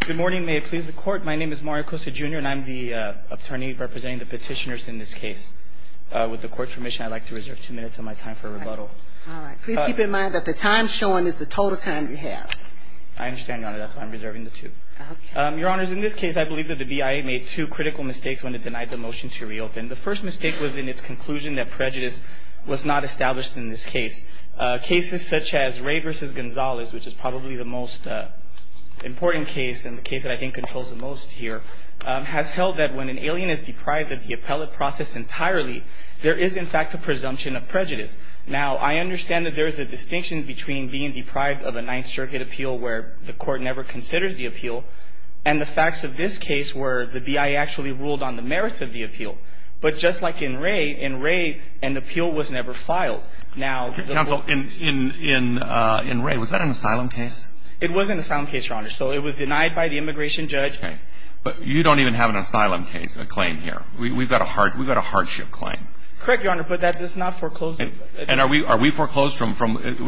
Good morning, may it please the court. My name is Mario Costa Jr. and I'm the attorney representing the petitioners in this case. With the court's permission, I'd like to reserve two minutes of my time for rebuttal. All right. Please keep in mind that the time shown is the total time you have. I understand, Your Honor. That's why I'm reserving the two. Okay. Your Honors, in this case, I believe that the BIA made two critical mistakes when it denied the motion to reopen. The first mistake was in its conclusion that prejudice was not established in this case. Cases such as Ray v. Gonzalez, which is probably the most important case and the case that I think controls the most here, has held that when an alien is deprived of the appellate process entirely, there is, in fact, a presumption of prejudice. Now, I understand that there is a distinction between being deprived of a Ninth Circuit appeal where the court never considers the appeal and the facts of this case where the BIA actually ruled on the merits of the appeal. But just like in Ray, in Ray, an appeal was never filed. Counsel, in Ray, was that an asylum case? It was an asylum case, Your Honor. So it was denied by the immigration judge. Okay. But you don't even have an asylum case, a claim here. We've got a hardship claim. Correct, Your Honor. But that is not foreclosed. And are we foreclosed from,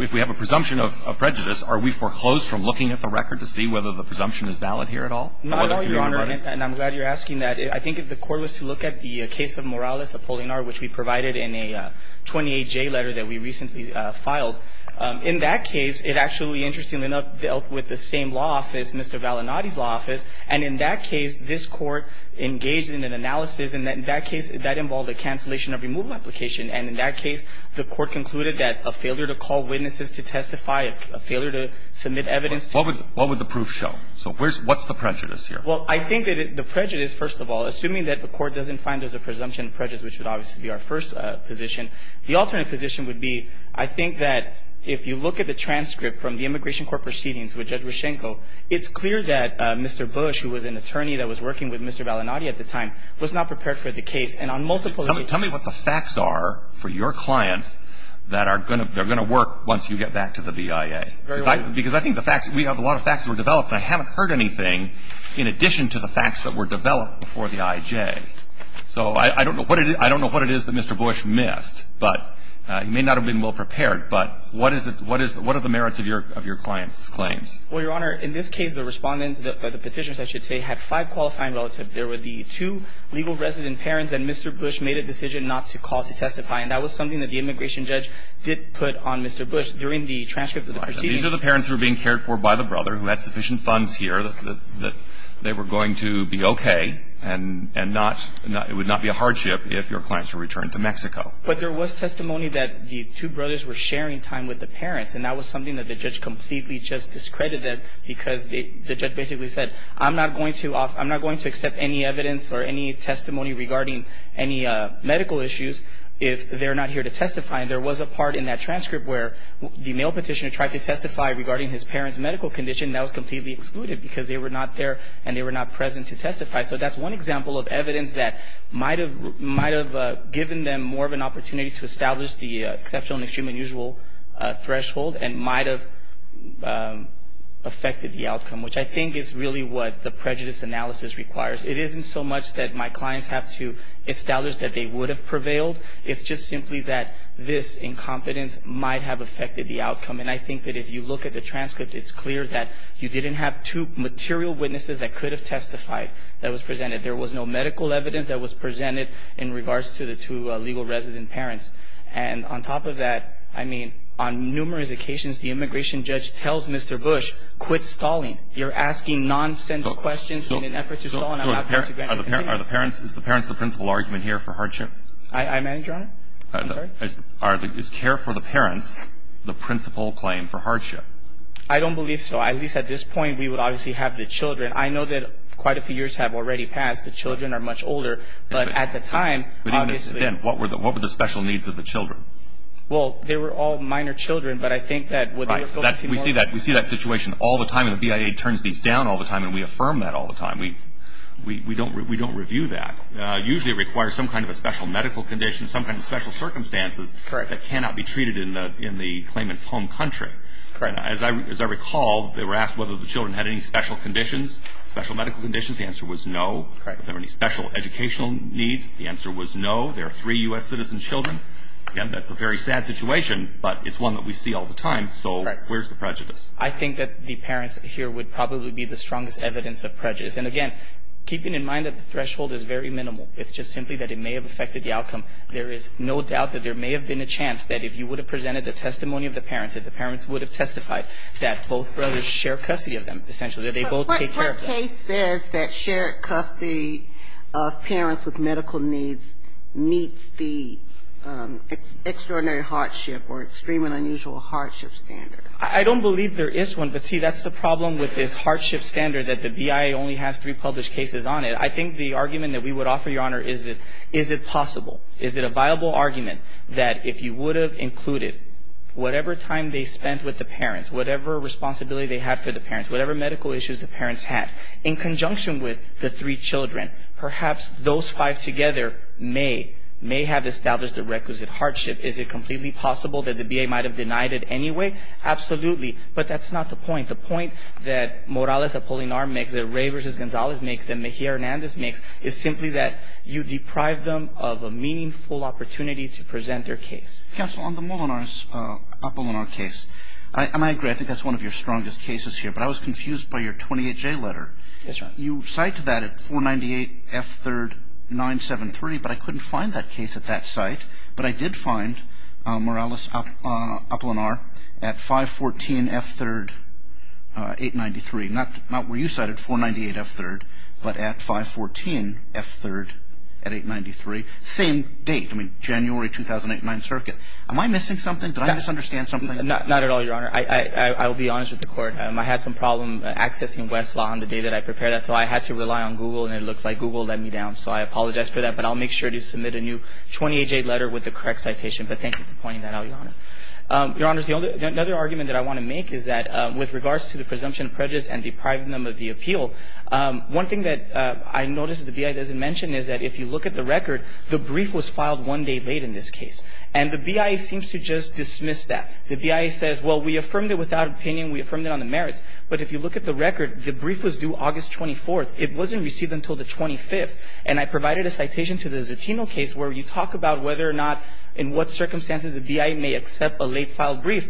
if we have a presumption of prejudice, are we foreclosed from looking at the record to see whether the presumption is valid here at all? Not at all, Your Honor. And I'm glad you're asking that. I think if the court was to look at the case of Morales-Apollinar, which we provided in a 28J letter that we recently filed, in that case, it actually, interestingly enough, dealt with the same law office, Mr. Valinati's law office. And in that case, this Court engaged in an analysis. And in that case, that involved a cancellation of removal application. And in that case, the Court concluded that a failure to call witnesses to testify, a failure to submit evidence to the court. What would the proof show? So what's the prejudice here? Well, I think that the prejudice, first of all, assuming that the court doesn't find there's a presumption of prejudice, which would obviously be our first position, the alternate position would be, I think that if you look at the transcript from the Immigration Court proceedings with Judge Reschenko, it's clear that Mr. Bush, who was an attorney that was working with Mr. Valinati at the time, was not prepared for the case. And on multiple occasions ---- Tell me what the facts are for your clients that are going to work once you get back to the BIA. Very well. Because I think the facts, we have a lot of facts that were developed, and I haven't heard anything in addition to the facts that were developed before the IJ. So I don't know what it is that Mr. Bush missed. But he may not have been well prepared. But what are the merits of your client's claims? Well, Your Honor, in this case, the Respondents, or the Petitioners, I should say, had five qualifying relatives. There were the two legal resident parents, and Mr. Bush made a decision not to call to testify. And that was something that the immigration judge did put on Mr. Bush during the transcript of the proceedings. These are the parents who were being cared for by the brother, who had sufficient funds here, that they were going to be okay, and not ---- it would not be a hardship if your clients were returned to Mexico. But there was testimony that the two brothers were sharing time with the parents, and that was something that the judge completely just discredited that because the judge basically said, I'm not going to accept any evidence or any testimony regarding any medical issues if they're not here to testify. And there was a part in that transcript where the male Petitioner tried to testify regarding his parents' medical condition. That was completely excluded because they were not there and they were not present to testify. So that's one example of evidence that might have given them more of an opportunity to establish the exceptional and extreme unusual threshold and might have affected the outcome, which I think is really what the prejudice analysis requires. It isn't so much that my clients have to establish that they would have prevailed. It's just simply that this incompetence might have affected the outcome. And I think that if you look at the transcript, it's clear that you didn't have two material witnesses that could have testified that was presented. There was no medical evidence that was presented in regards to the two legal resident parents. And on top of that, I mean, on numerous occasions, the immigration judge tells Mr. Bush, quit stalling. You're asking nonsense questions in an effort to stall an outcome. Is the parents the principal argument here for hardship? I manage, Your Honor. I'm sorry? Is care for the parents the principal claim for hardship? I don't believe so. At least at this point, we would obviously have the children. I know that quite a few years have already passed. The children are much older. But at the time, obviously. But even then, what were the special needs of the children? Well, they were all minor children. But I think that what they were focusing more on. Right. We see that situation all the time. And the BIA turns these down all the time and we affirm that all the time. And we don't review that. Usually it requires some kind of a special medical condition, some kind of special circumstances that cannot be treated in the claimant's home country. As I recall, they were asked whether the children had any special conditions, special medical conditions. The answer was no. Were there any special educational needs? The answer was no. There are three U.S. citizen children. Again, that's a very sad situation. But it's one that we see all the time. So where's the prejudice? I think that the parents here would probably be the strongest evidence of prejudice. And, again, keeping in mind that the threshold is very minimal. It's just simply that it may have affected the outcome. There is no doubt that there may have been a chance that if you would have presented the testimony of the parents, that the parents would have testified that both brothers share custody of them, essentially, that they both take care of them. But what case says that shared custody of parents with medical needs meets the extraordinary hardship or extreme and unusual hardship standard? I don't believe there is one. But, see, that's the problem with this hardship standard that the BIA only has three published cases on it. I think the argument that we would offer, Your Honor, is it possible, is it a viable argument that if you would have included whatever time they spent with the parents, whatever responsibility they had for the parents, whatever medical issues the parents had, in conjunction with the three children, perhaps those five together may have established the requisite hardship. Is it completely possible that the BIA might have denied it anyway? Absolutely. But that's not the point. The point that Morales-Apollinar makes, that Ray v. Gonzalez makes, that Mejia-Hernandez makes, is simply that you deprive them of a meaningful opportunity to present their case. Counsel, on the Morales-Apollinar case, and I agree, I think that's one of your strongest cases here, but I was confused by your 28J letter. Yes, Your Honor. You cite that at 498 F. 3rd 973, but I couldn't find that case at that site. But I did find Morales-Apollinar at 514 F. 3rd 893. Not where you cited, 498 F. 3rd, but at 514 F. 3rd at 893. Same date. I mean, January 2008, 9th Circuit. Am I missing something? Did I misunderstand something? Not at all, Your Honor. I will be honest with the Court. I had some problem accessing Westlaw on the day that I prepared that, so I had to rely on Google, and it looks like Google let me down. So I apologize for that, but I'll make sure to submit a new 28J letter with the correct citation. But thank you for pointing that out, Your Honor. Your Honors, another argument that I want to make is that with regards to the presumption of prejudice and depriving them of the appeal, one thing that I noticed that the BIA doesn't mention is that if you look at the record, the brief was filed one day late in this case. And the BIA seems to just dismiss that. The BIA says, well, we affirmed it without opinion. We affirmed it on the merits. But if you look at the record, the brief was due August 24th. It wasn't received until the 25th. And I provided a citation to the Zatino case where you talk about whether or not in what circumstances the BIA may accept a late-filed brief.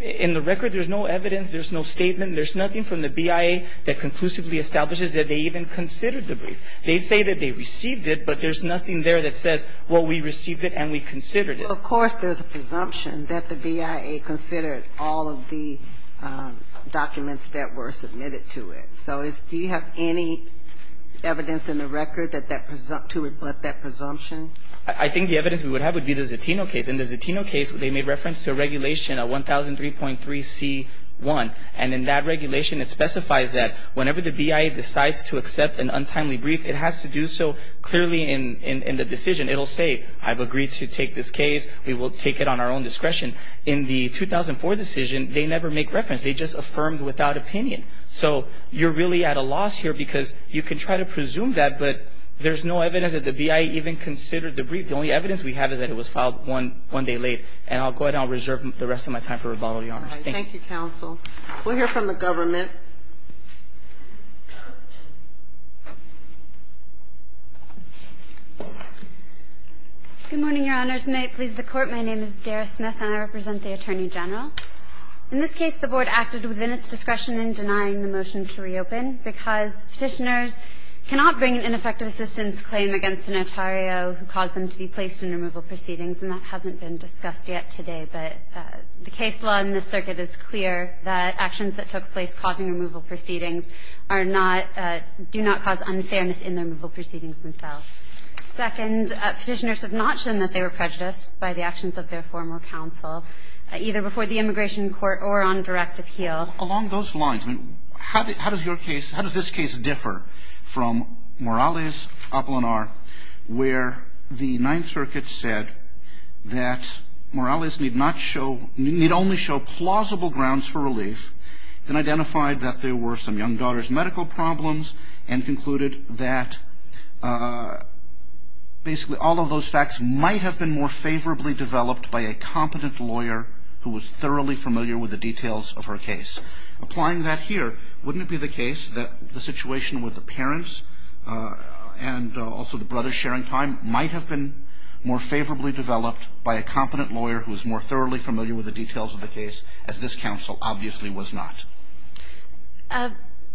In the record, there's no evidence. There's no statement. There's nothing from the BIA that conclusively establishes that they even considered the brief. They say that they received it, but there's nothing there that says, well, we received it and we considered it. Well, of course, there's a presumption that the BIA considered all of the documents that were submitted to it. So do you have any evidence in the record to rebut that presumption? I think the evidence we would have would be the Zatino case. In the Zatino case, they made reference to a regulation, 1003.3c1. And in that regulation, it specifies that whenever the BIA decides to accept an untimely brief, it has to do so clearly in the decision. It will say, I've agreed to take this case. We will take it on our own discretion. In the 2004 decision, they never make reference. They just affirmed without opinion. So you're really at a loss here because you can try to presume that, but there's no evidence that the BIA even considered the brief. The only evidence we have is that it was filed one day late. And I'll go ahead and I'll reserve the rest of my time for rebuttal, Your Honor. Thank you. Thank you, counsel. We'll hear from the government. Good morning, Your Honors. May it please the Court. My name is Dara Smith and I represent the Attorney General. In this case, the Board acted within its discretion in denying the motion to reopen because Petitioners cannot bring an ineffective assistance claim against a notario who caused them to be placed in removal proceedings, and that hasn't been discussed yet today. But the case law in this circuit is clear that actions that took place causing removal proceedings are not do not cause unfairness in the removal proceedings themselves. Second, Petitioners have not shown that they were prejudiced by the actions of their former counsel, either before the immigration court or on direct appeal. Along those lines, how does your case, how does this case differ from Morales, Apollonar, where the Ninth Circuit said that Morales need not show, need only show plausible grounds for relief, then identified that there were some young daughters' medical problems and concluded that basically all of those facts might have been more favorably developed by a competent lawyer who was thoroughly familiar with the details of her case? Applying that here, wouldn't it be the case that the situation with the parents and also the brothers' sharing time might have been more favorably developed by a competent lawyer who is more thoroughly familiar with the details of the case as this counsel obviously was not?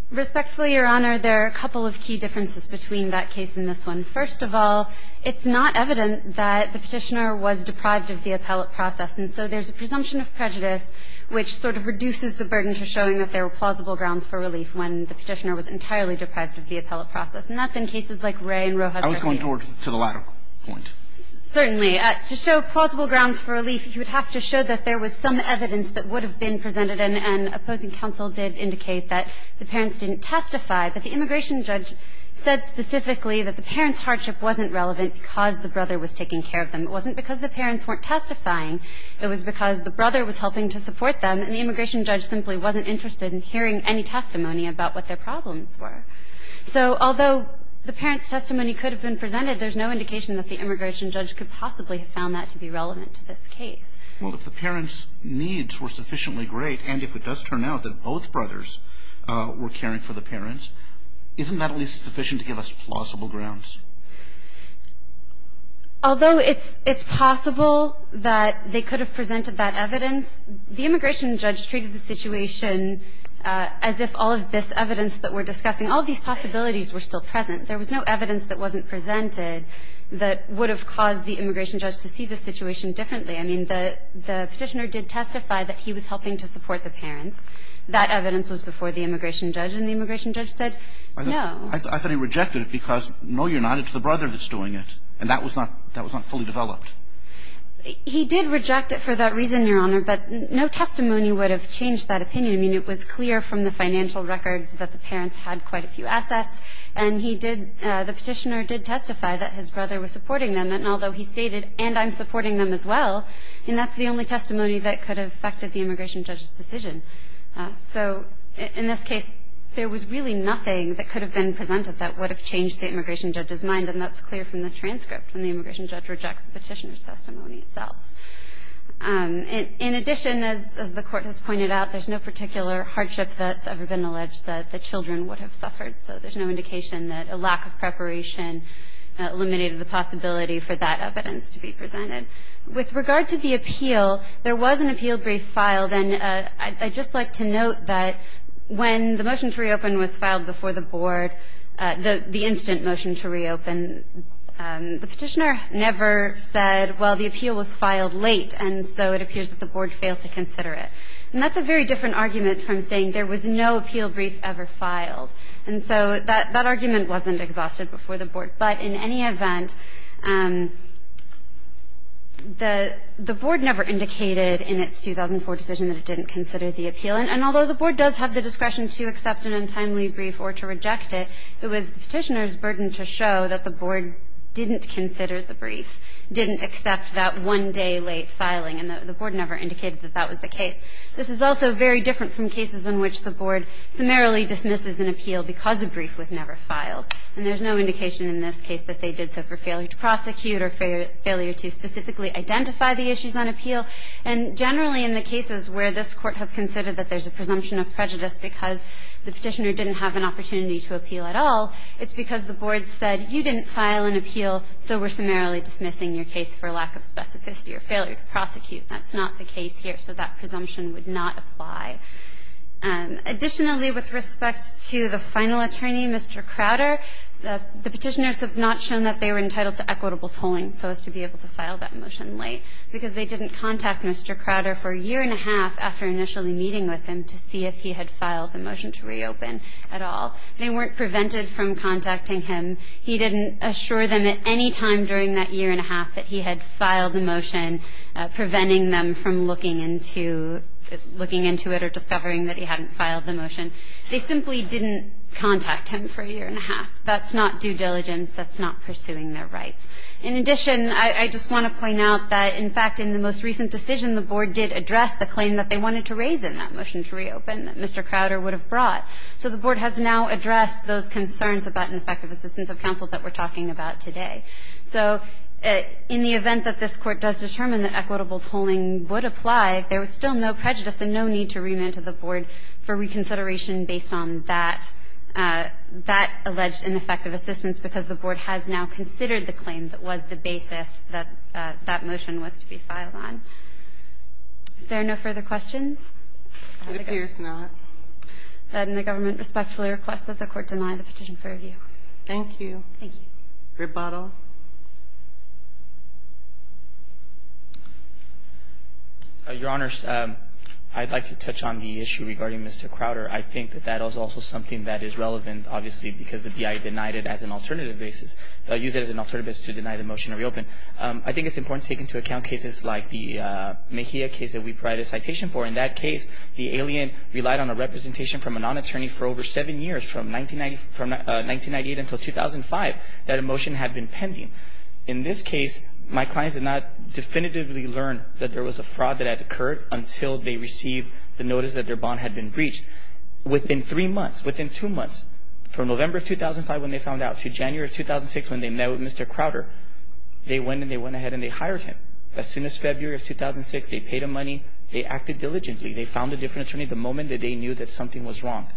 Respectfully, Your Honor, there are a couple of key differences between that case and this one. First of all, it's not evident that the Petitioner was deprived of the appellate process, and so there's a presumption of prejudice which sort of reduces the burden to showing that there were plausible grounds for relief when the Petitioner was entirely deprived of the appellate process, and that's in cases like Ray and Rojas. I was going to the latter point. Certainly. To show plausible grounds for relief, you would have to show that there was some evidence that would have been presented, and opposing counsel did indicate that the parents didn't testify, but the immigration judge said specifically that the parents' hardship wasn't relevant because the brother was taking care of them. It wasn't because the parents weren't testifying. It was because the brother was helping to support them, and the immigration judge simply wasn't interested in hearing any testimony about what their problems were. So although the parents' testimony could have been presented, there's no indication that the immigration judge could possibly have found that to be relevant to this case. Well, if the parents' needs were sufficiently great and if it does turn out that both brothers were caring for the parents, isn't that at least sufficient to give us plausible grounds? Although it's possible that they could have presented that evidence, the immigration judge treated the situation as if all of this evidence that we're discussing, all of these possibilities were still present. There was no evidence that wasn't presented that would have caused the immigration judge to see the situation differently. I mean, the Petitioner did testify that he was helping to support the parents. That evidence was before the immigration judge, and the immigration judge said no. I thought he rejected it because, no, you're not. It's the brother that's doing it. And that was not fully developed. He did reject it for that reason, Your Honor, but no testimony would have changed that opinion. I mean, it was clear from the financial records that the parents had quite a few assets, and he did, the Petitioner did testify that his brother was supporting them, and although he stated, and I'm supporting them as well, and that's the only testimony that could have affected the immigration judge's decision. So in this case, there was really nothing that could have been presented that would have changed the immigration judge's mind, and that's clear from the transcript when the immigration judge rejects the Petitioner's testimony itself. In addition, as the Court has pointed out, there's no particular hardship that's ever been alleged that the children would have suffered, so there's no indication that a lack of preparation eliminated the possibility for that evidence to be presented. With regard to the appeal, there was an appeal brief filed, and I'd just like to note that when the motion to reopen was filed before the Board, the instant motion to reopen, the Petitioner never said, well, the appeal was filed late, and so it appears that the Board failed to consider it. And that's a very different argument from saying there was no appeal brief ever filed. And so that argument wasn't exhausted before the Board. But in any event, the Board never indicated in its 2004 decision that it didn't consider the appeal. And although the Board does have the discretion to accept an untimely brief or to reject it, it was the Petitioner's burden to show that the Board didn't consider the brief, didn't accept that one-day late filing, and the Board never indicated that that was the case. This is also very different from cases in which the Board summarily dismisses an appeal because a brief was never filed. And there's no indication in this case that they did so for failure to prosecute or failure to specifically identify the issues on appeal. And generally in the cases where this Court has considered that there's a presumption of prejudice because the Petitioner didn't have an opportunity to appeal at all, it's because the Board said you didn't file an appeal, so we're summarily dismissing your case for lack of specificity or failure to prosecute. That's not the case here. So that presumption would not apply. Additionally, with respect to the final attorney, Mr. Crowder, the Petitioners have not shown that they were entitled to equitable tolling so as to be able to file that motion late because they didn't contact Mr. Crowder for a year and a half after initially meeting with him to see if he had filed the motion to reopen at all. They weren't prevented from contacting him. He didn't assure them at any time during that year and a half that he had filed the motion. They simply didn't contact him for a year and a half. That's not due diligence. That's not pursuing their rights. In addition, I just want to point out that, in fact, in the most recent decision, the Board did address the claim that they wanted to raise in that motion to reopen that Mr. Crowder would have brought. So the Board has now addressed those concerns about ineffective assistance of counsel that we're talking about today. So in the event that this Court does determine that equitable tolling would apply, there is still no prejudice and no need to remand to the Board for reconsideration based on that alleged ineffective assistance because the Board has now considered the claim that was the basis that that motion was to be filed on. Is there no further questions? It appears not. Then the government respectfully requests that the Court deny the petition for review. Thank you. Thank you. Rebuttal. Your Honors, I'd like to touch on the issue regarding Mr. Crowder. I think that that is also something that is relevant, obviously, because the BIA denied it as an alternative basis, used it as an alternative basis to deny the motion to reopen. I think it's important to take into account cases like the Mejia case that we provided a citation for. In that case, the alien relied on a representation from a non-attorney for over seven years, from 1998 until 2005, that a motion had been pending. In this case, my clients did not definitively learn that there was a fraud that had occurred until they received the notice that their bond had been breached. Within three months, within two months, from November of 2005 when they found out to January of 2006 when they met with Mr. Crowder, they went and they went ahead and they hired him. As soon as February of 2006, they paid him money. They acted diligently. They found a different attorney the moment that they knew that something was wrong.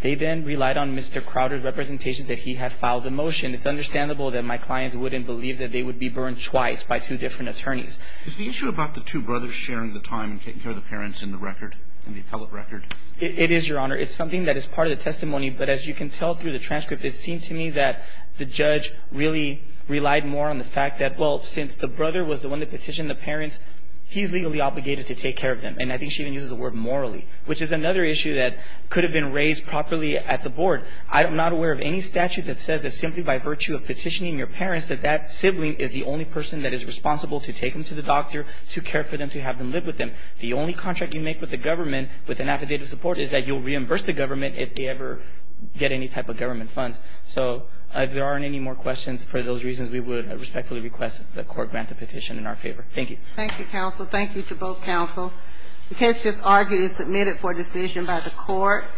They then relied on Mr. Crowder's representations that he had filed the motion. It's understandable that my clients wouldn't believe that they would be burned twice by two different attorneys. Is the issue about the two brothers sharing the time and taking care of the parents in the record, in the appellate record? It is, Your Honor. It's something that is part of the testimony. But as you can tell through the transcript, it seemed to me that the judge really relied more on the fact that, well, since the brother was the one that petitioned the parents, he's legally obligated to take care of them. And I think she even uses the word morally, which is another issue that could have been raised properly at the board. I am not aware of any statute that says that simply by virtue of petitioning your parents that that sibling is the only person that is responsible to take them to the doctor, to care for them, to have them live with them. The only contract you make with the government with an affidavit of support is that you'll reimburse the government if they ever get any type of government funds. So if there aren't any more questions, for those reasons, we would respectfully request the court grant the petition in our favor. Thank you. Thank you, counsel. Thank you to both counsel. The case just argued and submitted for decision by the court.